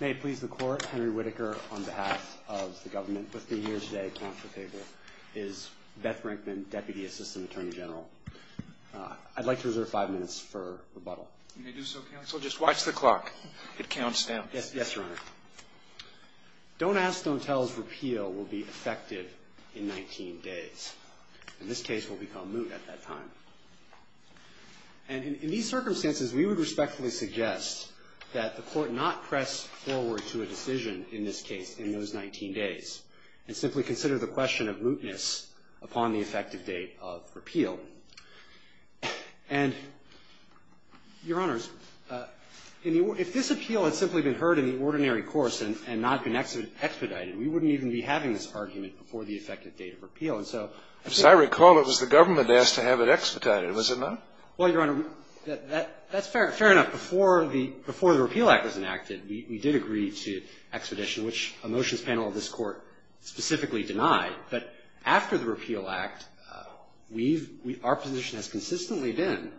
May it please the Court, Henry Whitaker on behalf of the government with me here today at council table is Beth Rankman, Deputy Assistant Attorney General. I'd like to reserve five minutes for rebuttal. You may do so, counsel. Just watch the clock. It counts down. Yes, Your Honor. Don't ask, don't tell's repeal will be effective in 19 days. And this case will become moot at that time. And in these circumstances, we would respectfully suggest that the Court not press forward to a decision in this case in those 19 days. And simply consider the question of mootness upon the effective date of repeal. And, Your Honors, if this appeal had simply been heard in the ordinary course and not been expedited, we wouldn't even be having this argument before the effective date of repeal. As I recall, it was the government that asked to have it expedited, was it not? Well, Your Honor, that's fair. Fair enough. Before the repeal act was enacted, we did agree to expedition, which a motions panel of this Court specifically denied. But after the repeal act, we've, our position has consistently been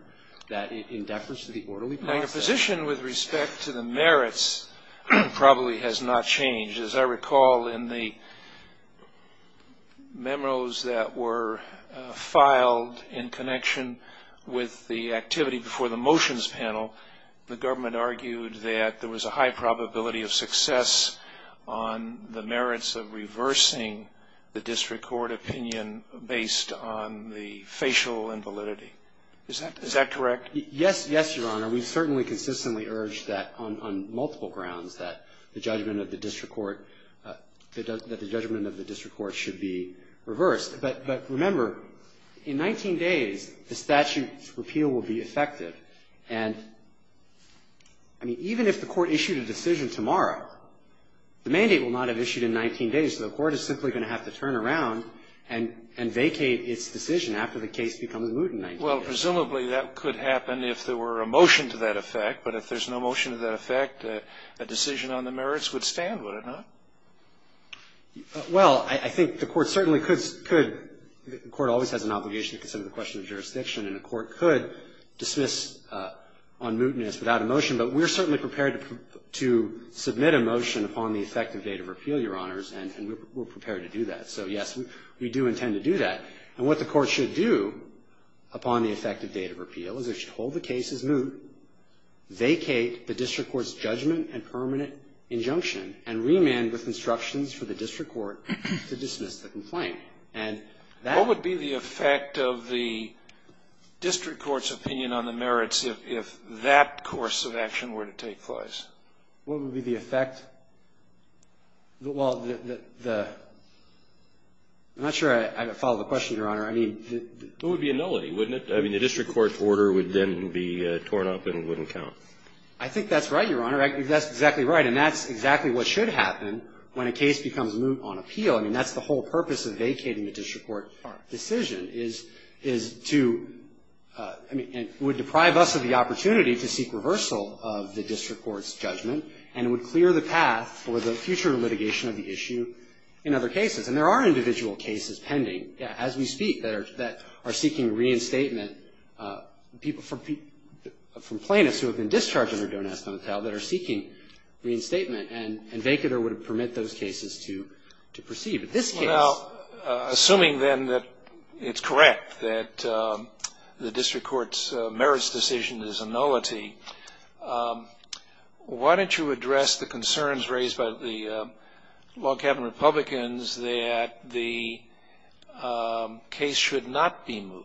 that in deference to the orderly process. Now, your position with respect to the merits probably has not changed. As I recall, in the memos that were filed in connection with the activity before the motions panel, the government argued that there was a high probability of success on the merits of reversing the district court opinion based on the facial invalidity. Is that correct? Yes, yes, Your Honor. We've certainly consistently urged that on multiple grounds, that the judgment of the district court, that the judgment of the district court should be reversed. But remember, in 19 days, the statute's repeal will be effective. And, I mean, even if the Court issued a decision tomorrow, the mandate will not have issued in 19 days. So the Court is simply going to have to turn around and vacate its decision after the case becomes moot in 19 days. Well, presumably that could happen if there were a motion to that effect. But if there's no motion to that effect, a decision on the merits would stand, would it not? Well, I think the Court certainly could, the Court always has an obligation to consider the question of jurisdiction. And the Court could dismiss on mootness without a motion. But we're certainly prepared to submit a motion upon the effective date of repeal, Your Honors, and we're prepared to do that. So, yes, we do intend to do that. And what the Court should do upon the effective date of repeal is it should hold the case as moot, vacate the district court's judgment and permanent injunction, and remand with instructions for the district court to dismiss the complaint. And that would be the effect of the district court's opinion on the merits if that course of action were to take place. What would be the effect? Well, the, the, I'm not sure I follow the question, Your Honor. I mean, the It would be a nullity, wouldn't it? I mean, the district court's order would then be torn up and wouldn't count. I think that's right, Your Honor. I think that's exactly right. And that's exactly what should happen when a case becomes moot on appeal. I mean, that's the whole purpose of vacating the district court decision is, is to, I mean, it would deprive us of the opportunity to seek reversal of the district court's judgment, and it would clear the path for the future litigation of the issue in other cases. And there are individual cases pending as we speak that are, that are seeking reinstatement from plaintiffs who have been discharged under Don't Ask, Don't Tell, that are seeking reinstatement. And, and vacater would permit those cases to, to proceed. Well, assuming then that it's correct that the district court's merits decision is a nullity, why don't you address the concerns raised by the long-cabin Republicans that the case should not be moot?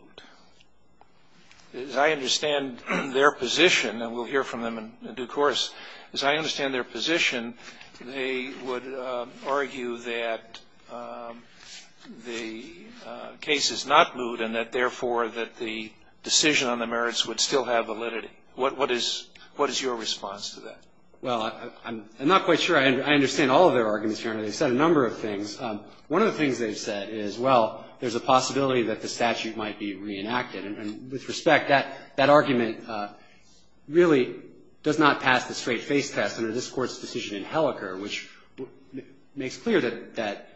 As I understand their position, and we'll hear from them in due course, as I understand their position, they would argue that the case is not moot and that, therefore, that the decision on the merits would still have validity. What, what is, what is your response to that? Well, I'm not quite sure I understand all of their arguments, Your Honor. They've said a number of things. One of the things they've said is, well, there's a possibility that the statute might be reenacted. And, and with respect, that, that argument really does not pass the straight-face test under this Court's decision in Helleker, which makes clear that, that,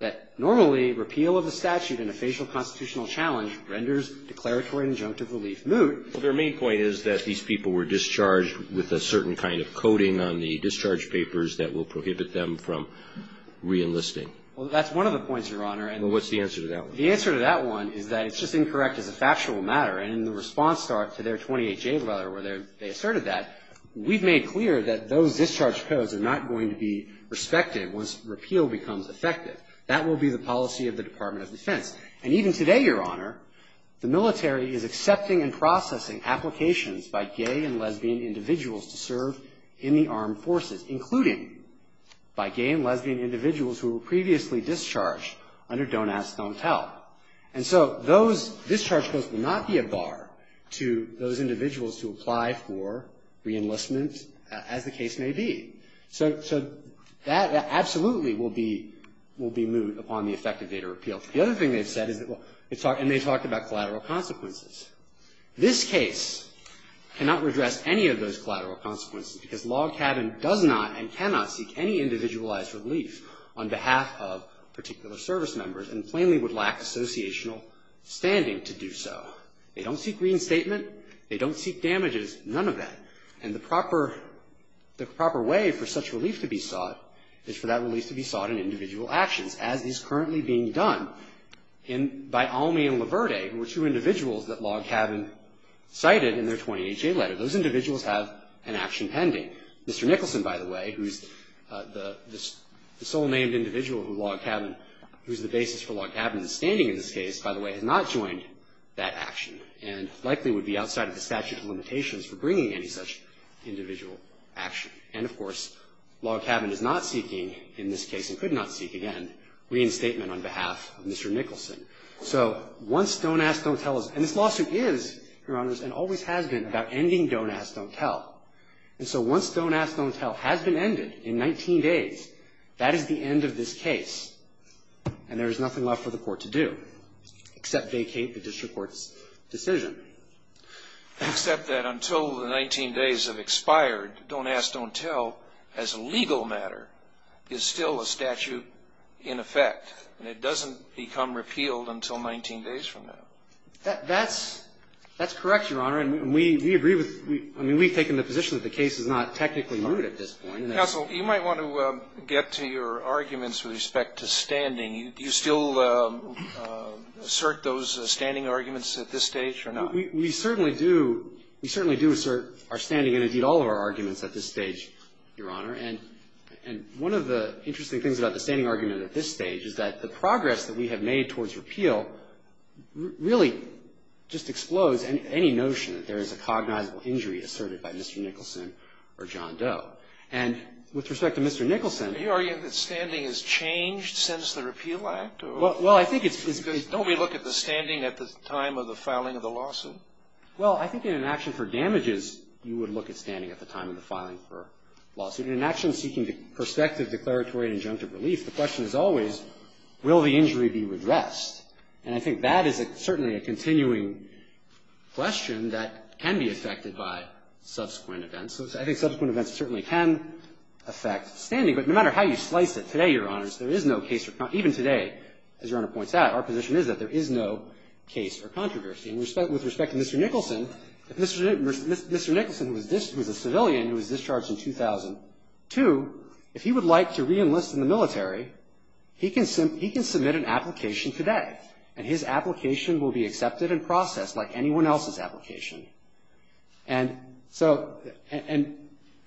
that normally repeal of the statute in a facial constitutional challenge renders declaratory injunctive relief moot. Well, their main point is that these people were discharged with a certain kind of coding on the discharge papers that will prohibit them from reenlisting. Well, that's one of the points, Your Honor. And what's the answer to that one? The answer to that one is that it's just incorrect as a factual matter. And in the response to their 28-J letter where they asserted that, we've made clear that those discharge codes are not going to be respected once repeal becomes effective. That will be the policy of the Department of Defense. And even today, Your Honor, the military is accepting and processing applications by gay and lesbian individuals to serve in the armed forces, including by gay and lesbian individuals who were previously discharged under Don't Ask, Don't Tell. And so those discharge codes will not be a bar to those individuals who apply for reenlistment, as the case may be. So, so that absolutely will be, will be moot upon the effective date of repeal. The other thing they've said is that, and they talked about collateral consequences. This case cannot redress any of those collateral consequences because Log Cabin does not and cannot seek any individualized relief on behalf of particular service members and plainly would lack associational standing to do so. They don't seek reinstatement. They don't seek damages. None of that. And the proper, the proper way for such relief to be sought is for that relief to be sought in individual actions, as is currently being done in, by Almy and Laverde, who were two individuals that Log Cabin cited in their 28-J letter. Those individuals have an action pending. Mr. Nicholson, by the way, who's the sole named individual who Log Cabin, who's the basis for Log Cabin's standing in this case, by the way, has not joined that action and likely would be outside of the statute of limitations for bringing any such individual action. And, of course, Log Cabin is not seeking, in this case and could not seek again, reinstatement on behalf of Mr. Nicholson. So once Don't Ask, Don't Tell is, and this lawsuit is, Your Honors, and always has been about ending Don't Ask, Don't Tell. And so once Don't Ask, Don't Tell has been ended in 19 days, that is the end of this case, and there is nothing left for the Court to do except vacate the district court's decision. Except that until the 19 days have expired, Don't Ask, Don't Tell, as a legal matter, is still a statute in effect, and it doesn't become repealed until 19 days from now. That's correct, Your Honor. And we agree with you. I mean, we've taken the position that the case is not technically moot at this point. Counsel, you might want to get to your arguments with respect to standing. Do you still assert those standing arguments at this stage or not? We certainly do. We certainly do assert our standing and, indeed, all of our arguments at this stage, Your Honor. And one of the interesting things about the standing argument at this stage is that the progress that we have made towards repeal really just explodes any notion that there is a cognizable injury asserted by Mr. Nicholson or John Doe. And with respect to Mr. Nicholson — Are you arguing that standing has changed since the Repeal Act? Well, I think it's — Because don't we look at the standing at the time of the filing of the lawsuit? Well, I think in an action for damages, you would look at standing at the time of the filing for a lawsuit. In an action seeking perspective, declaratory, and injunctive relief, the question is always, will the injury be redressed? And I think that is certainly a continuing question that can be affected by subsequent events. I think subsequent events certainly can affect standing. But no matter how you slice it, today, Your Honors, there is no case or — even today, as Your Honor points out, our position is that there is no case or controversy. And with respect to Mr. Nicholson, if Mr. Nicholson, who was a civilian who was discharged in 2002, if he would like to reenlist in the military, he can — he can submit an application today. And his application will be accepted and processed like anyone else's application. And so — and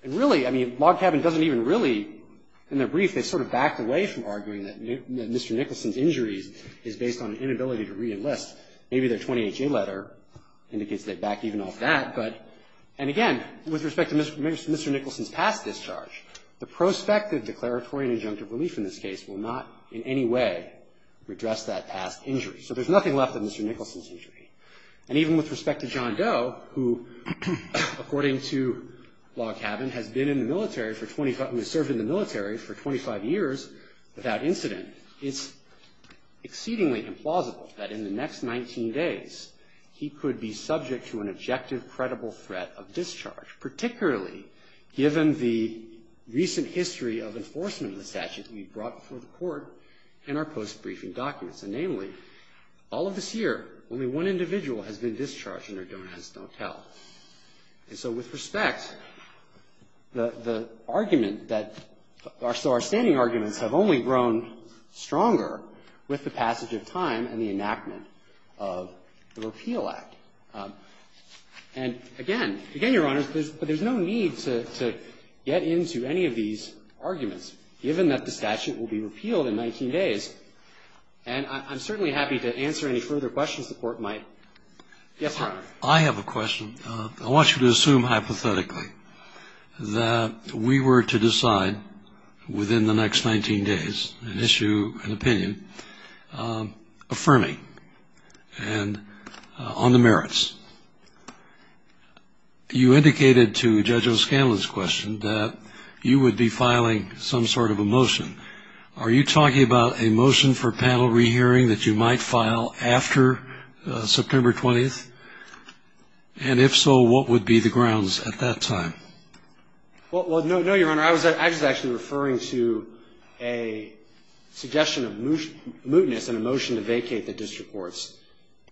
really, I mean, Log Cabin doesn't even really — in their brief, they sort of backed away from arguing that Mr. Nicholson's injury is based on inability to reenlist. Maybe their 28-J letter indicates they backed even off that. But — and again, with respect to Mr. Nicholson's past discharge, the prospective declaratory and injunctive relief in this case will not in any way redress that past injury. So there's nothing left of Mr. Nicholson's injury. And even with respect to John Doe, who, according to Log Cabin, has been in the military for 25 — has served in the military for 25 years without incident, it's exceedingly implausible that in the next 19 days, he could be subject to an objective, credible threat of discharge, particularly given the recent history of enforcement of the statute that we brought before the Court in our post-briefing documents. And namely, all of this year, only one individual has been discharged, and their donors don't tell. And so with respect, the — the argument that — so our standing arguments have only grown stronger with the passage of time and the enactment of the Repeal Act. And again — again, Your Honors, there's no need to get into any of these arguments, given that the statute will be repealed in 19 days. And I'm certainly happy to answer any further questions the Court might. Yes, Your Honor. I have a question. I want you to assume hypothetically that we were to decide within the next 19 days an issue, an opinion, affirming and on the merits. You indicated to Judge O'Scanlan's question that you would be filing some sort of a motion. Are you talking about a motion for panel rehearing that you might file after September 20th? And if so, what would be the grounds at that time? Well, no, Your Honor, I was actually referring to a suggestion of mootness and a motion to vacate the district court's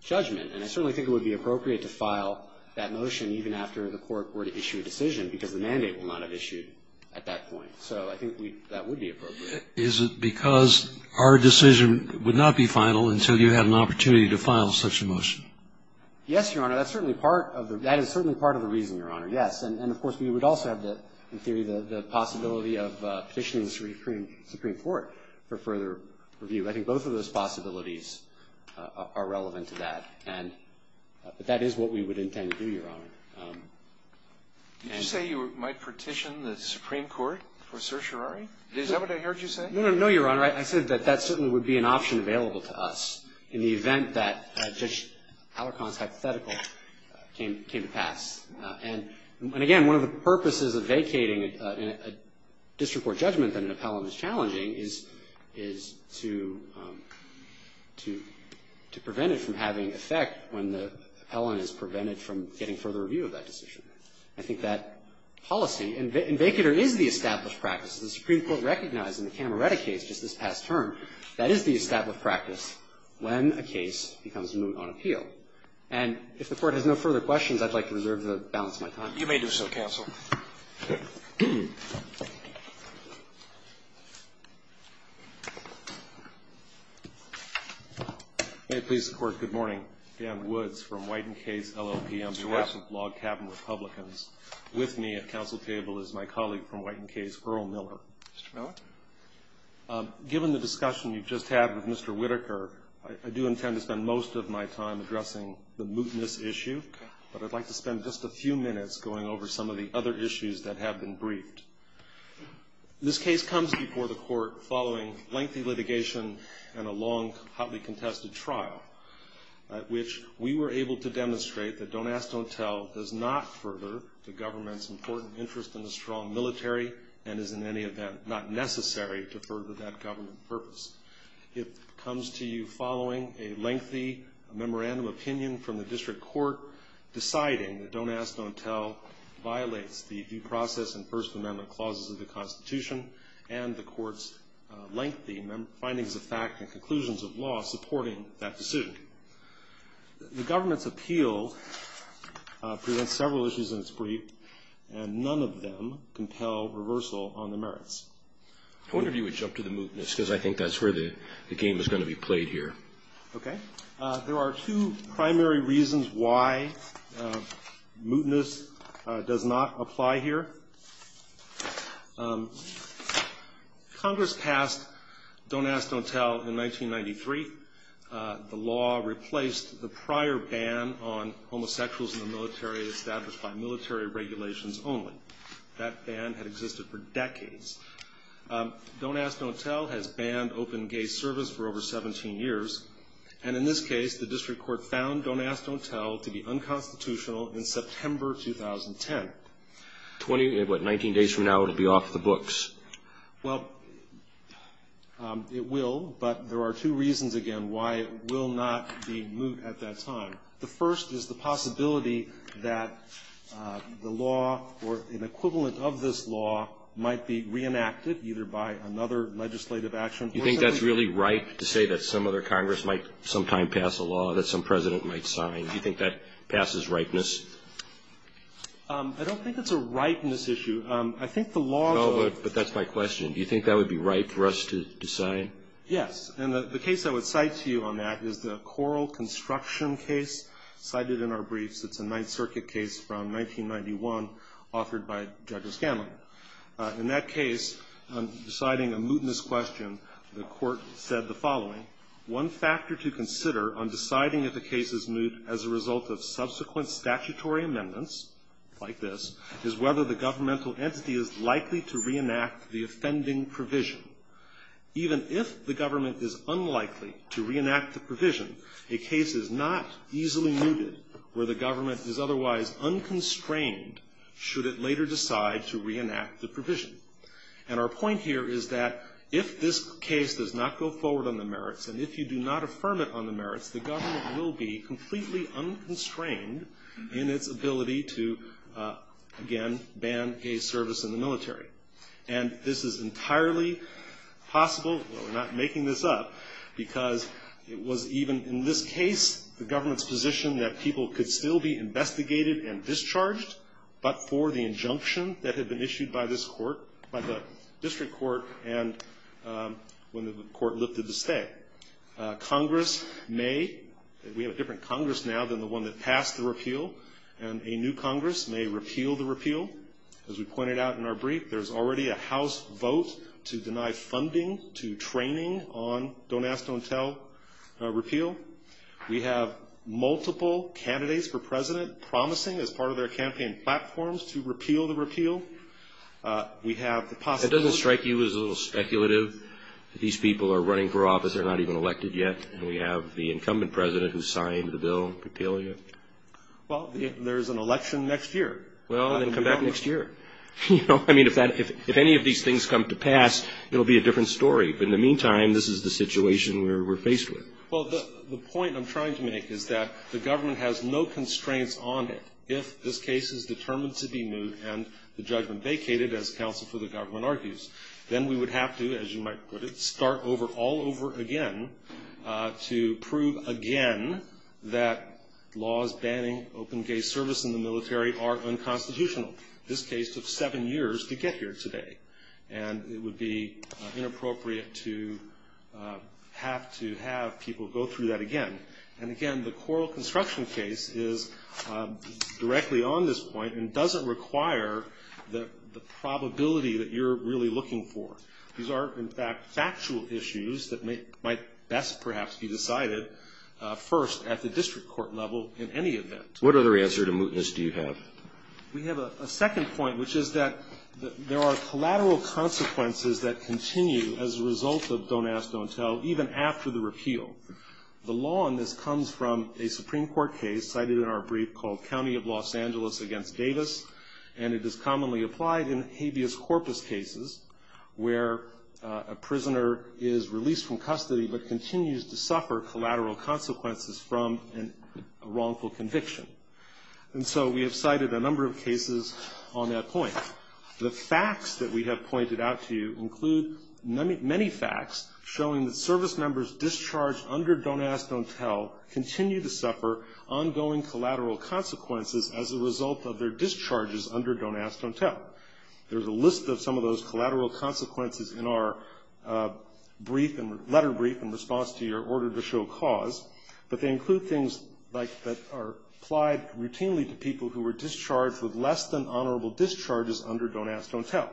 judgment. And I certainly think it would be appropriate to file that motion even after the Court were to issue a decision, because the mandate will not have issued at that point. So I think that would be appropriate. Is it because our decision would not be final until you had an opportunity to file such a motion? Yes, Your Honor. That's certainly part of the — that is certainly part of the reason, Your Honor, yes. And, of course, we would also have, in theory, the possibility of petitioning the Supreme Court for further review. I think both of those possibilities are relevant to that. But that is what we would intend to do, Your Honor. Did you say you might petition the Supreme Court for certiorari? Is that what I heard you say? No, Your Honor, I said that that certainly would be an option available to us in the And, again, one of the purposes of vacating a district court judgment that an appellant is challenging is — is to — to — to prevent it from having effect when the appellant is prevented from getting further review of that decision. I think that policy — and vacater is the established practice. The Supreme Court recognized in the Cameretta case just this past term that is the established practice when a case becomes moot on appeal. And if the Court has no further questions, I'd like to reserve the balance of my time. You may do so, counsel. May it please the Court. Good morning. Dan Woods from Whiten Kays, LLP. Mr. Webb. I'm the voice of Log Cabin Republicans. With me at counsel table is my colleague from Whiten Kays, Earl Miller. Mr. Miller. Given the discussion you just had with Mr. Whitaker, I do intend to spend most of my time addressing the mootness issue, but I'd like to spend just a few minutes going over some of the other issues that have been briefed. This case comes before the Court following lengthy litigation and a long, hotly contested trial at which we were able to demonstrate that Don't Ask, Don't Tell does not further the government's important interest in a strong military and is, in any event, not necessary to further that government purpose. It comes to you following a lengthy memorandum of opinion from the district court deciding that Don't Ask, Don't Tell violates the due process and First Amendment clauses of the Constitution and the Court's lengthy findings of fact and conclusions of law supporting that decision. The government's appeal presents several issues in its brief, and none of them compel reversal on the merits. I wonder if you would jump to the mootness, because I think that's where the game is going to be played here. Okay. There are two primary reasons why mootness does not apply here. Congress passed Don't Ask, Don't Tell in 1993. The law replaced the prior ban on homosexuals in the military established by military regulations only. That ban had existed for decades. Don't Ask, Don't Tell has banned open gay service for over 17 years. And in this case, the district court found Don't Ask, Don't Tell to be unconstitutional in September 2010. What, 19 days from now it will be off the books? Well, it will, but there are two reasons, again, why it will not be moot at that time. The first is the possibility that the law or an equivalent of this law might be reenacted either by another legislative action. Do you think that's really right to say that some other Congress might sometime pass a law that some President might sign? Do you think that passes rightness? I don't think it's a rightness issue. I think the law does. No, but that's my question. Do you think that would be right for us to decide? Yes. And the case I would cite to you on that is the Coral Construction case cited in our briefs. It's a Ninth Circuit case from 1991 authored by Judge O'Scanlan. In that case, on deciding a mootness question, the court said the following, one factor to consider on deciding if a case is moot as a result of subsequent statutory amendments, like this, is whether the governmental entity is likely to reenact the offending provision. Even if the government is unlikely to reenact the provision, a case is not easily mooted where the government is otherwise unconstrained should it later decide to reenact the provision. And our point here is that if this case does not go forward on the merits and if you do not affirm it on the merits, the government will be completely unconstrained in its And this is entirely possible, but we're not making this up, because it was even in this case the government's position that people could still be investigated and discharged, but for the injunction that had been issued by this court, by the district court, and when the court lifted the stay. Congress may, we have a different Congress now than the one that passed the repeal, and a new Congress may repeal the repeal. As we pointed out in our brief, there's already a House vote to deny funding to training on don't ask, don't tell repeal. We have multiple candidates for president promising as part of their campaign platforms to repeal the repeal. We have the possibility It doesn't strike you as a little speculative that these people are running for office, they're not even elected yet, and we have the incumbent president who signed the bill repealing it? Well, there's an election next year. Well, then come back next year. You know, I mean, if any of these things come to pass, it'll be a different story. But in the meantime, this is the situation we're faced with. Well, the point I'm trying to make is that the government has no constraints on it. If this case is determined to be moved and the judgment vacated, as counsel for the government argues, then we would have to, as you might put it, start over all over again to prove again that laws banning open gay service in the military are unconstitutional. This case took seven years to get here today. And it would be inappropriate to have to have people go through that again. And, again, the coral construction case is directly on this point and doesn't require the probability that you're really looking for. These are, in fact, factual issues that might best perhaps be decided first at the district court level in any event. What other answer to mootness do you have? We have a second point, which is that there are collateral consequences that continue as a result of don't ask, don't tell, even after the repeal. The law on this comes from a Supreme Court case cited in our brief called County of Los Angeles against Davis, and it is commonly applied in habeas corpus cases where a prisoner is released from custody but continues to suffer collateral consequences from a wrongful conviction. And so we have cited a number of cases on that point. The facts that we have pointed out to you include many facts showing that service members discharged under don't ask, don't tell continue to suffer ongoing collateral consequences as a result of their discharges under don't ask, don't tell. There's a list of some of those collateral consequences in our letter brief in response to your order to show cause, but they include things like that are applied routinely to people who were discharged with less than honorable discharges under don't ask, don't tell.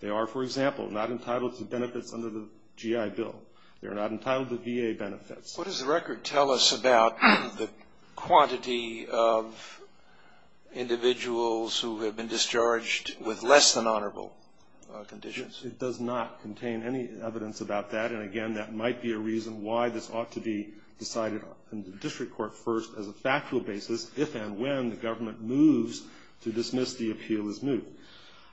They are, for example, not entitled to benefits under the GI Bill. They are not entitled to VA benefits. What does the record tell us about the quantity of individuals who have been discharged with less than honorable conditions? It does not contain any evidence about that, and again, that might be a reason why this ought to be decided in the district court first as a factual basis if and when the government moves to dismiss the appeal as moved.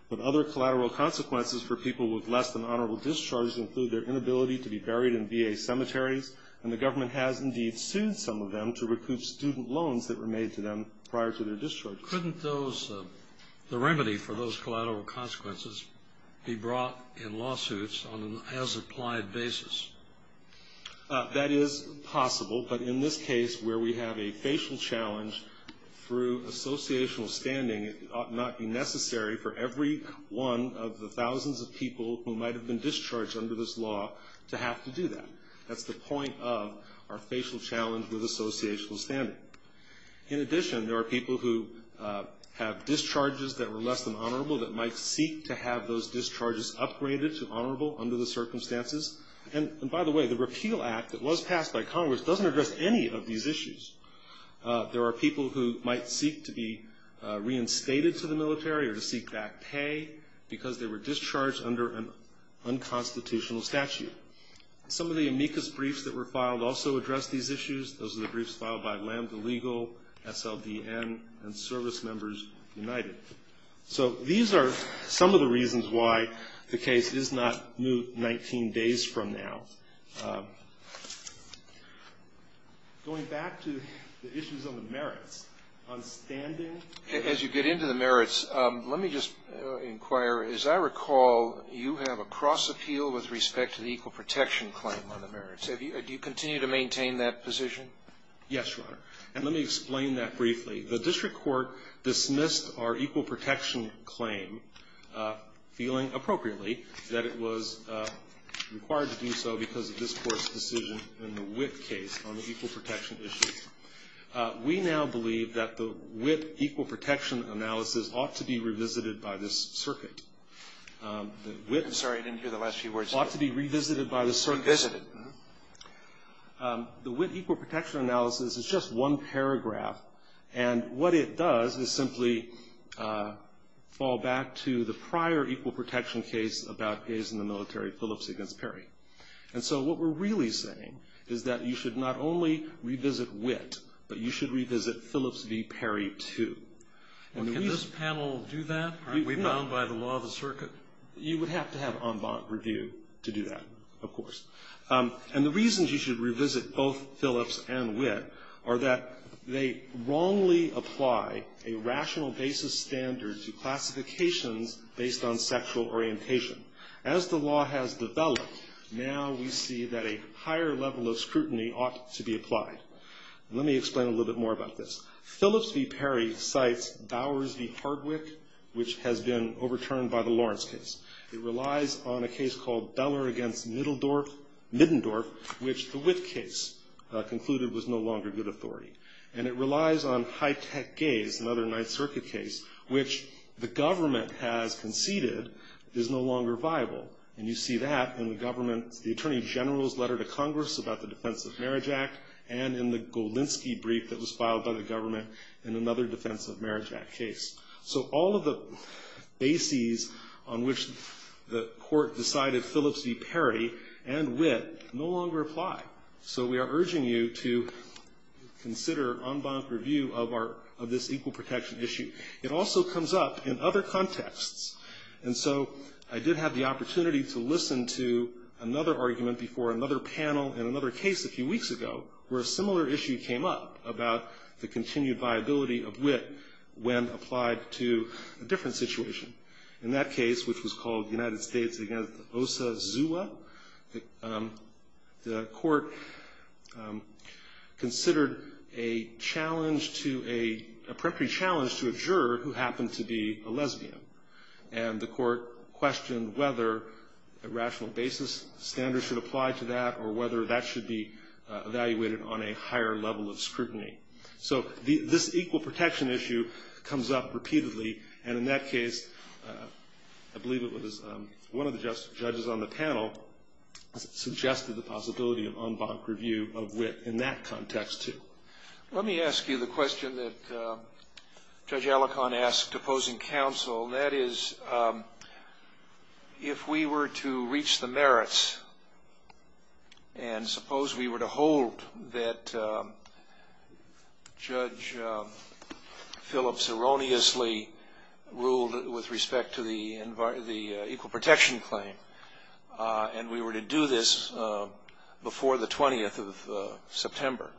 But other collateral consequences for people with less than honorable discharges include their inability to be buried in VA cemeteries, and the government has, indeed, sued some of them to recoup student loans that were made to them prior to their discharge. Couldn't the remedy for those collateral consequences be brought in lawsuits on an as-applied basis? That is possible, but in this case where we have a facial challenge through associational standing, it ought not be necessary for every one of the thousands of people who might have been discharged under this law to have to do that. That's the point of our facial challenge with associational standing. In addition, there are people who have discharges that were less than honorable that might seek to have those discharges upgraded to honorable under the circumstances. And by the way, the repeal act that was passed by Congress doesn't address any of these issues. There are people who might seek to be reinstated to the military or to seek back pay because they were discharged under an unconstitutional statute. Some of the amicus briefs that were filed also address these issues. Those are the briefs filed by Lambda Legal, SLDN, and Service Members United. So these are some of the reasons why the case is not moved 19 days from now. Going back to the issues on the merits, on standing. As you get into the merits, let me just inquire. As I recall, you have a cross appeal with respect to the equal protection claim on the merits. Do you continue to maintain that position? Yes, Your Honor. And let me explain that briefly. The district court dismissed our equal protection claim, feeling appropriately, that it was required to do so because of this Court's decision in the Witt case on the equal protection issue. We now believe that the Witt equal protection analysis ought to be revisited by this circuit. I'm sorry. I didn't hear the last few words. It ought to be revisited by this circuit. Revisited. The Witt equal protection analysis is just one paragraph. And what it does is simply fall back to the prior equal protection case about gays in the military, Phillips v. Perry. And so what we're really saying is that you should not only revisit Witt, but you should revisit Phillips v. Perry, too. Can this panel do that? Aren't we bound by the law of the circuit? You would have to have en banc review to do that, of course. And the reasons you should revisit both Phillips and Witt are that they wrongly apply a rational basis standard to classifications based on sexual orientation. As the law has developed, now we see that a higher level of scrutiny ought to be applied. Let me explain a little bit more about this. Phillips v. Perry cites Bowers v. Hardwick, which has been overturned by the Lawrence case. It relies on a case called Beller v. Middendorf, which the Witt case concluded was no longer good authority. And it relies on high-tech gays, another Ninth Circuit case, which the government has conceded is no longer viable. And you see that in the government, the Attorney General's letter to Congress about the Defense of Marriage Act, and in the Golinski brief that was filed by the government in another Defense of Marriage Act case. So all of the bases on which the Court decided Phillips v. Perry and Witt no longer apply. So we are urging you to consider en banc review of this equal protection issue. It also comes up in other contexts. And so I did have the opportunity to listen to another argument before another panel in another case a few weeks ago where a similar issue came up about the continued viability of Witt when applied to a different situation. In that case, which was called United States v. Osa Zua, the Court considered a challenge to a, a preemptory challenge to a juror who happened to be a lesbian. And the Court questioned whether a rational basis standard should apply to that or whether that should be evaluated on a higher level of scrutiny. So this equal protection issue comes up repeatedly. And in that case, I believe it was one of the judges on the panel suggested the possibility of en banc review of Witt in that context, too. Let me ask you the question that Judge Alicorn asked opposing counsel. That is, if we were to reach the merits and suppose we were to hold that Judge Phillips erroneously ruled with respect to the equal protection claim, and we were to do this before the 20th of September,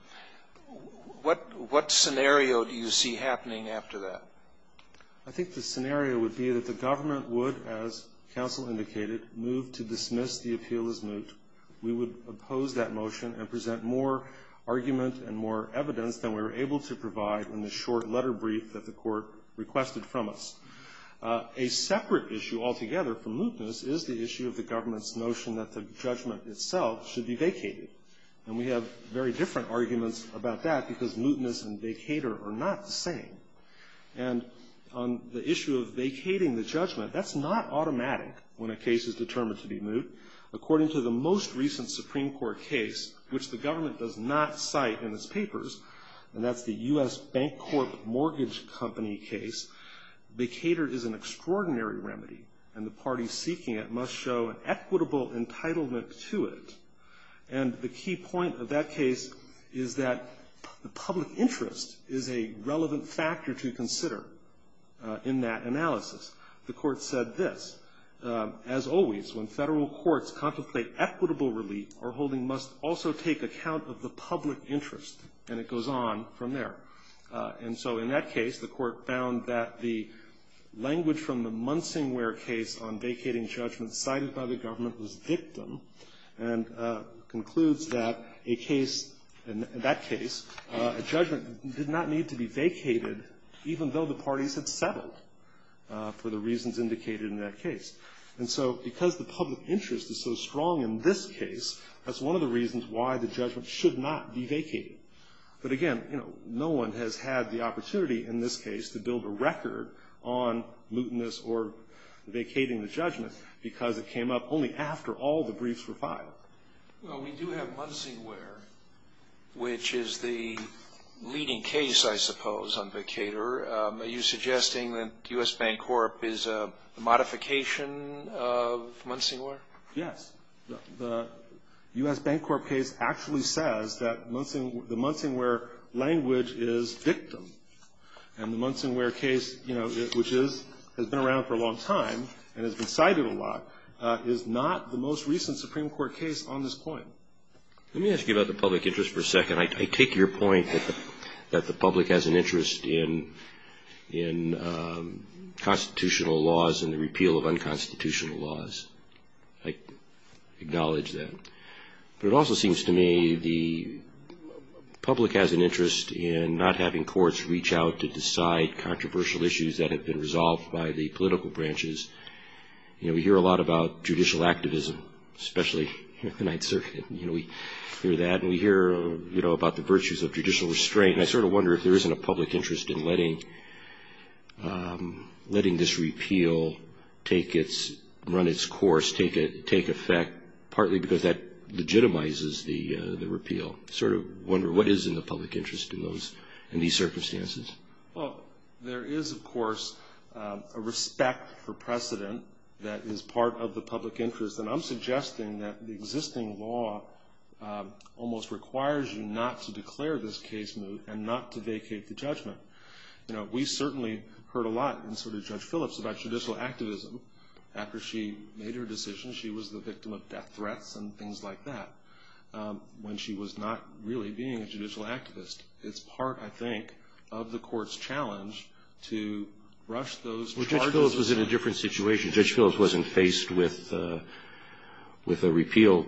what, what scenario do you see happening after that? I think the scenario would be that the government would, as counsel indicated, move to dismiss the appeal as moot. We would oppose that motion and present more argument and more evidence than we were able to provide in the short letter brief that the Court requested from us. A separate issue altogether for mootness is the issue of the government's notion that the judgment itself should be vacated. And we have very different arguments about that because mootness and vacater are not the same. And on the issue of vacating the judgment, that's not automatic when a case is determined to be moot. According to the most recent Supreme Court case, which the government does not cite in its papers, and that's the U.S. Bank Corp. Mortgage Company case, vacater is an extraordinary remedy, and the parties seeking it must show an equitable entitlement to it. And the key point of that case is that the public interest is a relevant factor to consider in that analysis. The Court said this. As always, when federal courts contemplate equitable relief, our holding must also take account of the public interest. And it goes on from there. And so in that case, the Court found that the language from the Munsingware case on vacating judgment cited by the government was victim and concludes that a case, in that case, a judgment did not need to be vacated even though the parties had settled. For the reasons indicated in that case. And so because the public interest is so strong in this case, that's one of the reasons why the judgment should not be vacated. But again, you know, no one has had the opportunity in this case to build a record on mootness or vacating the judgment because it came up only after all the briefs were filed. Well, we do have Munsingware, which is the leading case, I suppose, on vacater. Are you suggesting that U.S. Bancorp is a modification of Munsingware? Yes. The U.S. Bancorp case actually says that the Munsingware language is victim. And the Munsingware case, you know, which has been around for a long time and has been cited a lot, is not the most recent Supreme Court case on this point. Let me ask you about the public interest for a second. I take your point that the public has an interest in constitutional laws and the repeal of unconstitutional laws. I acknowledge that. But it also seems to me the public has an interest in not having courts reach out to decide controversial issues that have been resolved by the political branches. You know, we hear a lot about judicial activism, especially here at the Ninth Circuit. You know, we hear that and we hear, you know, about the virtues of judicial restraint. And I sort of wonder if there isn't a public interest in letting this repeal run its course, take effect, partly because that legitimizes the repeal. I sort of wonder what is in the public interest in these circumstances. Well, there is, of course, a respect for precedent that is part of the public interest. And I'm suggesting that the existing law almost requires you not to declare this case moot and not to vacate the judgment. You know, we certainly heard a lot, and so did Judge Phillips, about judicial activism. After she made her decision, she was the victim of death threats and things like that, when she was not really being a judicial activist. It's part, I think, of the court's challenge to rush those charges. Well, Judge Phillips was in a different situation. Judge Phillips wasn't faced with a repeal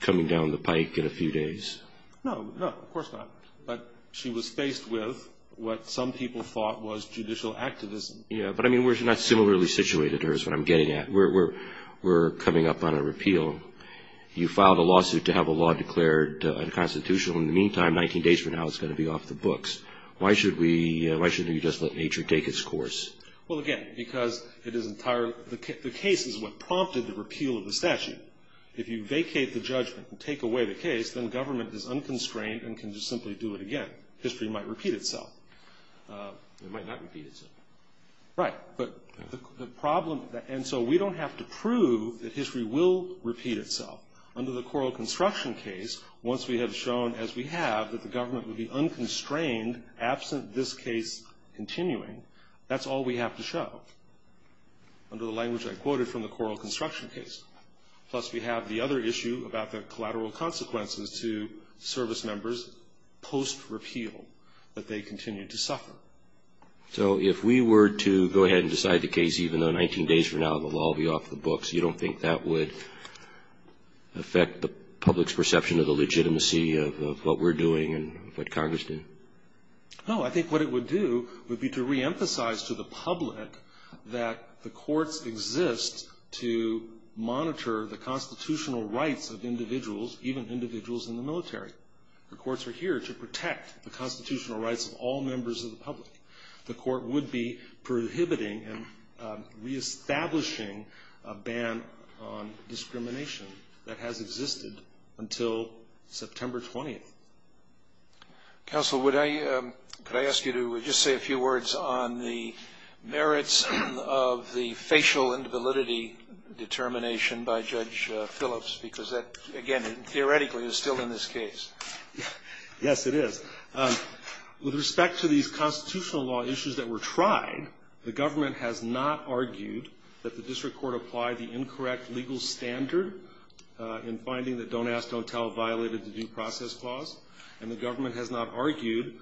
coming down the pike in a few days. No, no, of course not. But she was faced with what some people thought was judicial activism. Yeah, but I mean, we're not similarly situated here is what I'm getting at. We're coming up on a repeal. You filed a lawsuit to have a law declared unconstitutional. In the meantime, 19 days from now, it's going to be off the books. Why shouldn't we just let nature take its course? Well, again, because the case is what prompted the repeal of the statute. If you vacate the judgment and take away the case, then government is unconstrained and can just simply do it again. History might repeat itself. It might not repeat itself. Right. And so we don't have to prove that history will repeat itself. Under the Coral Construction case, once we have shown, as we have, that the government would be unconstrained, absent this case continuing, that's all we have to show, under the language I quoted from the Coral Construction case. Plus, we have the other issue about the collateral consequences to service members post-repeal, that they continue to suffer. So if we were to go ahead and decide the case, even though 19 days from now the law will be off the books, you don't think that would affect the public's perception of the legitimacy of what we're doing and what Congress did? No. I think what it would do would be to reemphasize to the public that the courts exist to monitor the constitutional rights of individuals, even individuals in the military. The courts are here to protect the constitutional rights of all members of the public. The court would be prohibiting and reestablishing a ban on discrimination that has existed until September 20th. Counsel, could I ask you to just say a few words on the merits of the facial and validity determination by Judge Phillips? Because that, again, theoretically is still in this case. Yes, it is. With respect to these constitutional law issues that were tried, the government has not argued that the district court applied the incorrect legal standard in finding that don't ask, don't tell violated the due process clause. And the government has not argued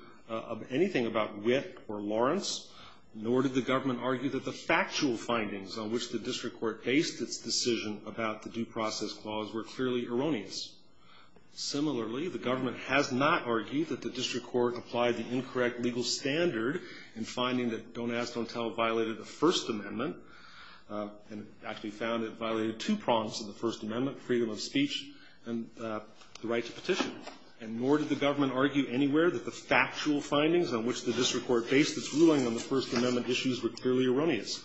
anything about Witt or Lawrence, nor did the government argue that the factual findings on which the district court based its decision about the due process clause were clearly erroneous. Similarly, the government has not argued that the district court applied the incorrect legal standard in finding that don't ask, don't tell violated the First Amendment, and actually found it violated two prompts of the First Amendment, freedom of speech and the right to petition. And nor did the government argue anywhere that the factual findings on which the district court based its ruling on the First Amendment issues were clearly erroneous.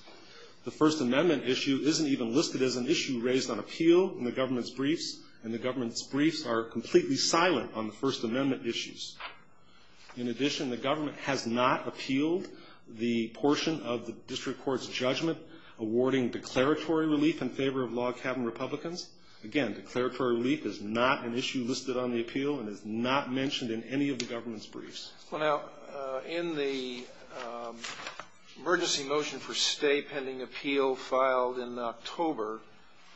The First Amendment issue isn't even listed as an issue raised on appeal in the government's briefs, and the government's briefs are completely silent on the First Amendment issues. In addition, the government has not appealed the portion of the district court's judgment awarding declaratory relief in favor of log cabin Republicans. Again, declaratory relief is not an issue listed on the appeal and is not mentioned in any of the government's briefs. Well, now, in the emergency motion for stay pending appeal filed in October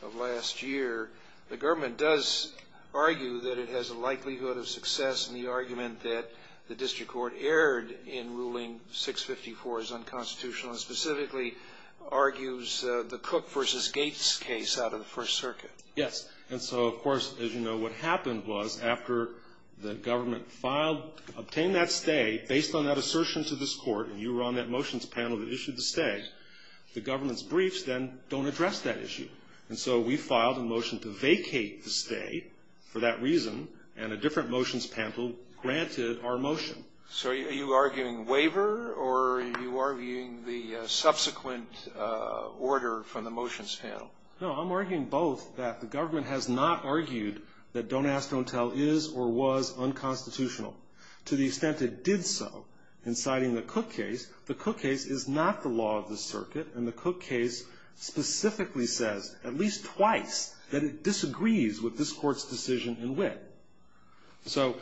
of last year, the government does argue that it has a likelihood of success in the argument that the district court erred in ruling 654 as unconstitutional, and specifically argues the Cook v. Gates case out of the First Circuit. Yes. And so, of course, as you know, what happened was after the government obtained that stay, based on that assertion to this court, and you were on that motions panel that issued the stay, the government's briefs then don't address that issue. And so we filed a motion to vacate the stay for that reason, and a different motions panel granted our motion. So are you arguing waiver, or are you arguing the subsequent order from the motions panel? No, I'm arguing both that the government has not argued that Don't Ask, Don't Tell is or was unconstitutional. To the extent it did so in citing the Cook case, the Cook case is not the law of the circuit, and the Cook case specifically says at least twice that it disagrees with this court's decision in wit. So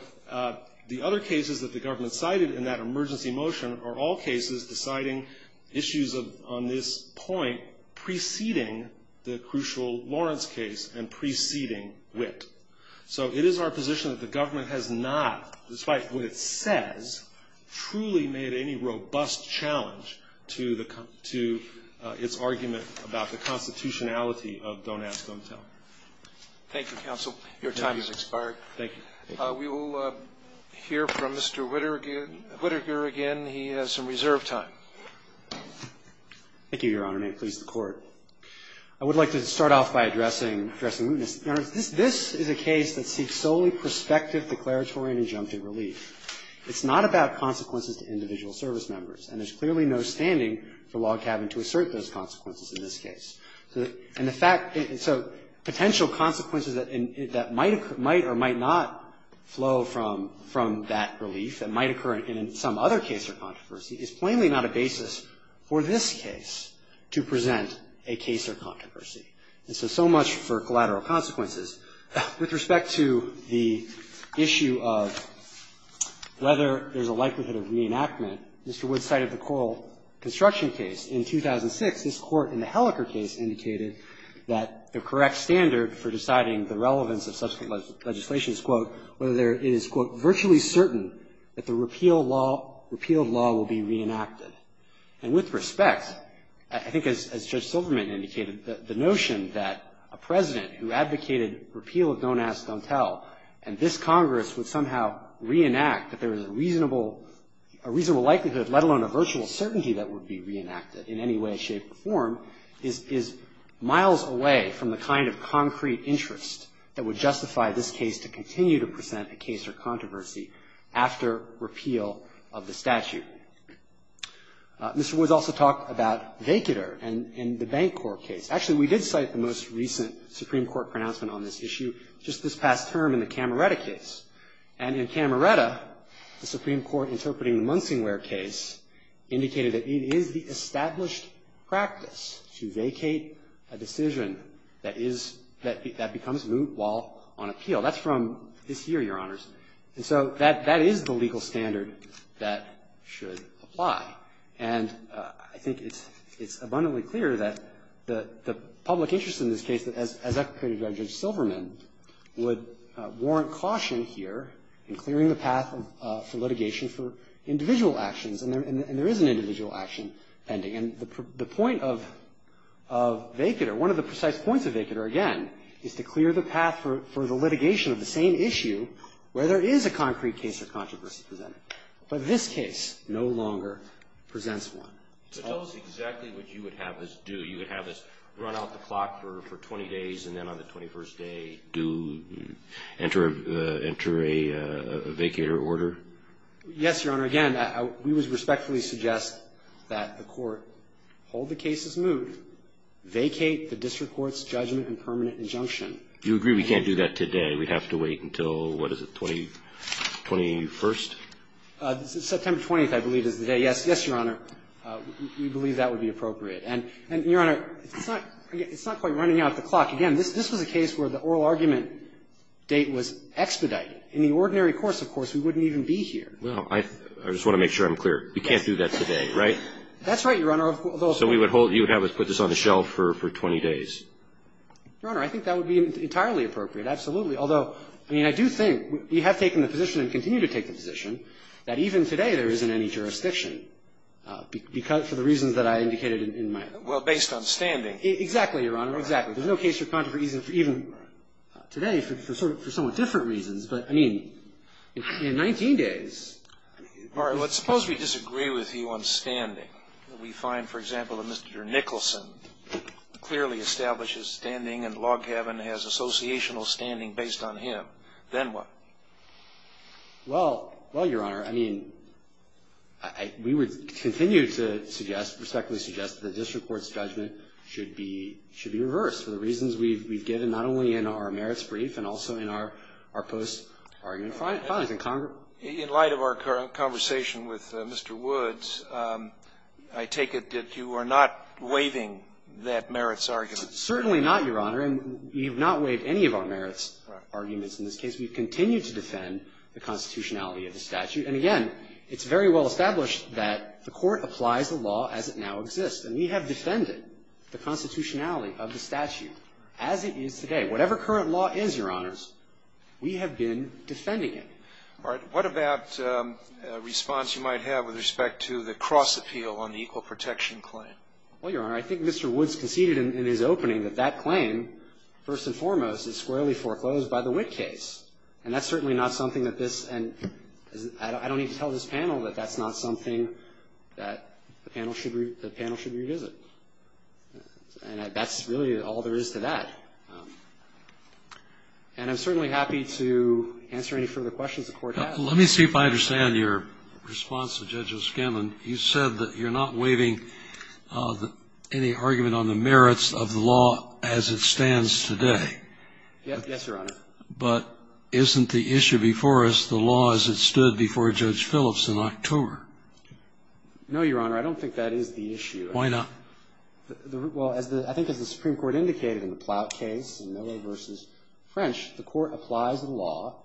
the other cases that the government cited in that emergency motion are all cases deciding issues on this point preceding the crucial Lawrence case and preceding wit. So it is our position that the government has not, despite what it says, truly made any robust challenge to the, to its argument about the constitutionality of Don't Ask, Don't Tell. Thank you, counsel. Your time has expired. Thank you. We will hear from Mr. Whittaker again. He has some reserve time. Thank you, Your Honor, and may it please the Court. I would like to start off by addressing, addressing mootness. Your Honor, this is a case that seeks solely prospective declaratory and injunctive relief. It's not about consequences to individual service members, and there's clearly no standing for log cabin to assert those consequences in this case. And the fact, so potential consequences that might or might not flow from that relief that might occur in some other case or controversy is plainly not a basis for this case to present a case or controversy. And so, so much for collateral consequences. With respect to the issue of whether there's a likelihood of reenactment, Mr. Whitt cited the Coral Construction case. In 2006, this Court in the Helleker case indicated that the correct standard for deciding the relevance of subsequent legislation is, quote, whether there is, quote, virtually certain that the repeal law, repealed law will be reenacted. And with respect, I think as Judge Silverman indicated, the notion that a President who advocated repeal of Don't Ask, Don't Tell, and this Congress would somehow reenact that there is a reasonable, a reasonable likelihood, let alone a virtual certainty that would be reenacted in any way, shape, or form is, is miles away from the kind of concrete interest that would justify this case to continue to present a case or controversy after repeal of the statute. Mr. Woods also talked about vacater in the Bancorp case. Actually, we did cite the most recent Supreme Court pronouncement on this issue just this past term in the Cameretta case. And in Cameretta, the Supreme Court interpreting the Munsingware case indicated that it is the established practice to vacate a decision that is, that becomes moot while on appeal. That's from this year, Your Honors. And so that is the legal standard that should apply. And I think it's abundantly clear that the public interest in this case, as advocated by Judge Silverman, would warrant caution here in clearing the path for litigation for individual actions. And there is an individual action pending. And the point of vacater, one of the precise points of vacater, again, is to clear the path for the litigation of the same issue where there is a concrete case of controversy presented. But this case no longer presents one. So tell us exactly what you would have us do. You would have us run out the clock for 20 days, and then on the 21st day do enter a vacater order? Yes, Your Honor. Again, we would respectfully suggest that the Court hold the case as moot, vacate the district court's judgment and permanent injunction. You agree we can't do that today. We'd have to wait until, what is it, 20, 21st? September 20th, I believe, is the day. Yes, Your Honor. We believe that would be appropriate. And, Your Honor, it's not quite running out the clock. Again, this was a case where the oral argument date was expedited. In the ordinary course, of course, we wouldn't even be here. Well, I just want to make sure I'm clear. We can't do that today, right? That's right, Your Honor. So we would hold, you would have us put this on the shelf for 20 days. Your Honor, I think that would be entirely appropriate, absolutely. Although, I mean, I do think we have taken the position and continue to take the position that even today there isn't any jurisdiction because of the reasons that I indicated in my argument. Well, based on standing. Exactly, Your Honor, exactly. There's no case for contra reason for even today for somewhat different reasons. But, I mean, in 19 days. All right. Let's suppose we disagree with you on standing. We find, for example, that Mr. Nicholson clearly establishes standing and Loghaven has associational standing based on him. Then what? Well, Your Honor, I mean, we would continue to suggest, respectfully suggest, that the district court's judgment should be reversed for the reasons we've given not only in our merits brief and also in our post-argument findings. In light of our conversation with Mr. Woods, I take it that you are not waiving that merits argument. Certainly not, Your Honor. And we have not waived any of our merits arguments in this case. We've continued to defend the constitutionality of the statute. And, again, it's very well established that the Court applies the law as it now exists. And we have defended the constitutionality of the statute as it is today. Whatever current law is, Your Honors, we have been defending it. All right. What about a response you might have with respect to the cross-appeal on the equal protection claim? Well, Your Honor, I think Mr. Woods conceded in his opening that that claim, first and foremost, is squarely foreclosed by the Witt case. And that's certainly not something that this and I don't need to tell this panel that that's not something that the panel should revisit. And that's really all there is to that. And I'm certainly happy to answer any further questions the Court has. Let me see if I understand your response to Judge O'Scanlan. You said that you're not waiving any argument on the merits of the law as it stands today. Yes, Your Honor. But isn't the issue before us the law as it stood before Judge Phillips in October? No, Your Honor. I don't think that is the issue. Why not? Well, as the – I think as the Supreme Court indicated in the Ploutt case in Miller v. French, the Court applies the law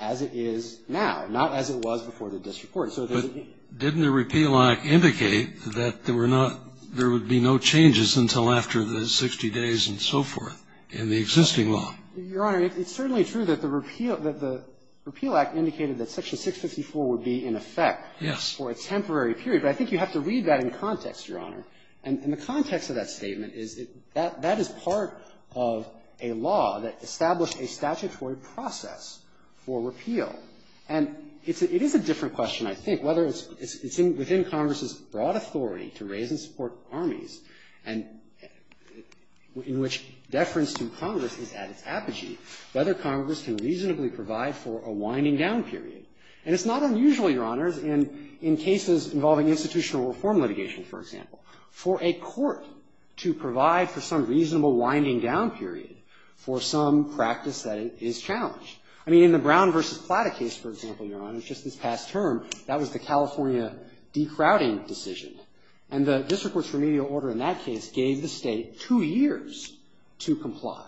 as it is now, not as it was before the district court. But didn't the repeal act indicate that there were not – there would be no changes until after the 60 days and so forth in the existing law? Your Honor, it's certainly true that the repeal – that the repeal act indicated that Section 654 would be in effect for a temporary period. Yes. But I think you have to read that in context, Your Honor. And the context of that statement is that that is part of a law that established a statutory process for repeal. And it is a different question, I think, whether it's within Congress's broad authority to raise and support armies, and in which deference to Congress is at its apogee, whether Congress can reasonably provide for a winding-down period. And it's not unusual, Your Honors, in cases involving institutional reform litigation, for example, for a court to provide for some reasonable winding-down period for some practice that is challenged. I mean, in the Brown v. Ploutt case, for example, Your Honor, just this past term, that was the California decrowding decision. And the district court's remedial order in that case gave the State two years to comply.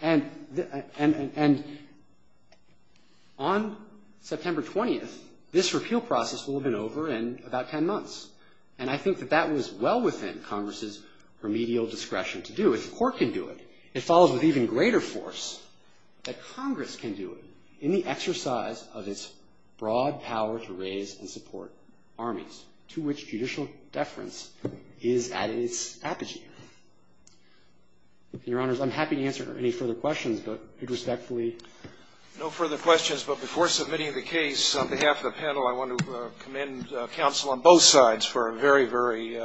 And the – and – and on September 20th, this repeal process will have been over in about 10 months. And I think that that was well within Congress's remedial discretion to do. If the Court can do it, it follows with even greater force that Congress can do it in the exercise of its broad power to raise and support armies, to which judicial deference is at its apogee. Your Honors, I'm happy to answer any further questions, but I'd respectfully. No further questions, but before submitting the case, on behalf of the panel, I want to commend counsel on both sides for a very, very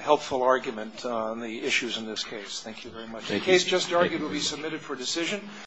helpful argument on the issues in this case. Thank you very much. Thank you. The case just argued will be submitted for decision.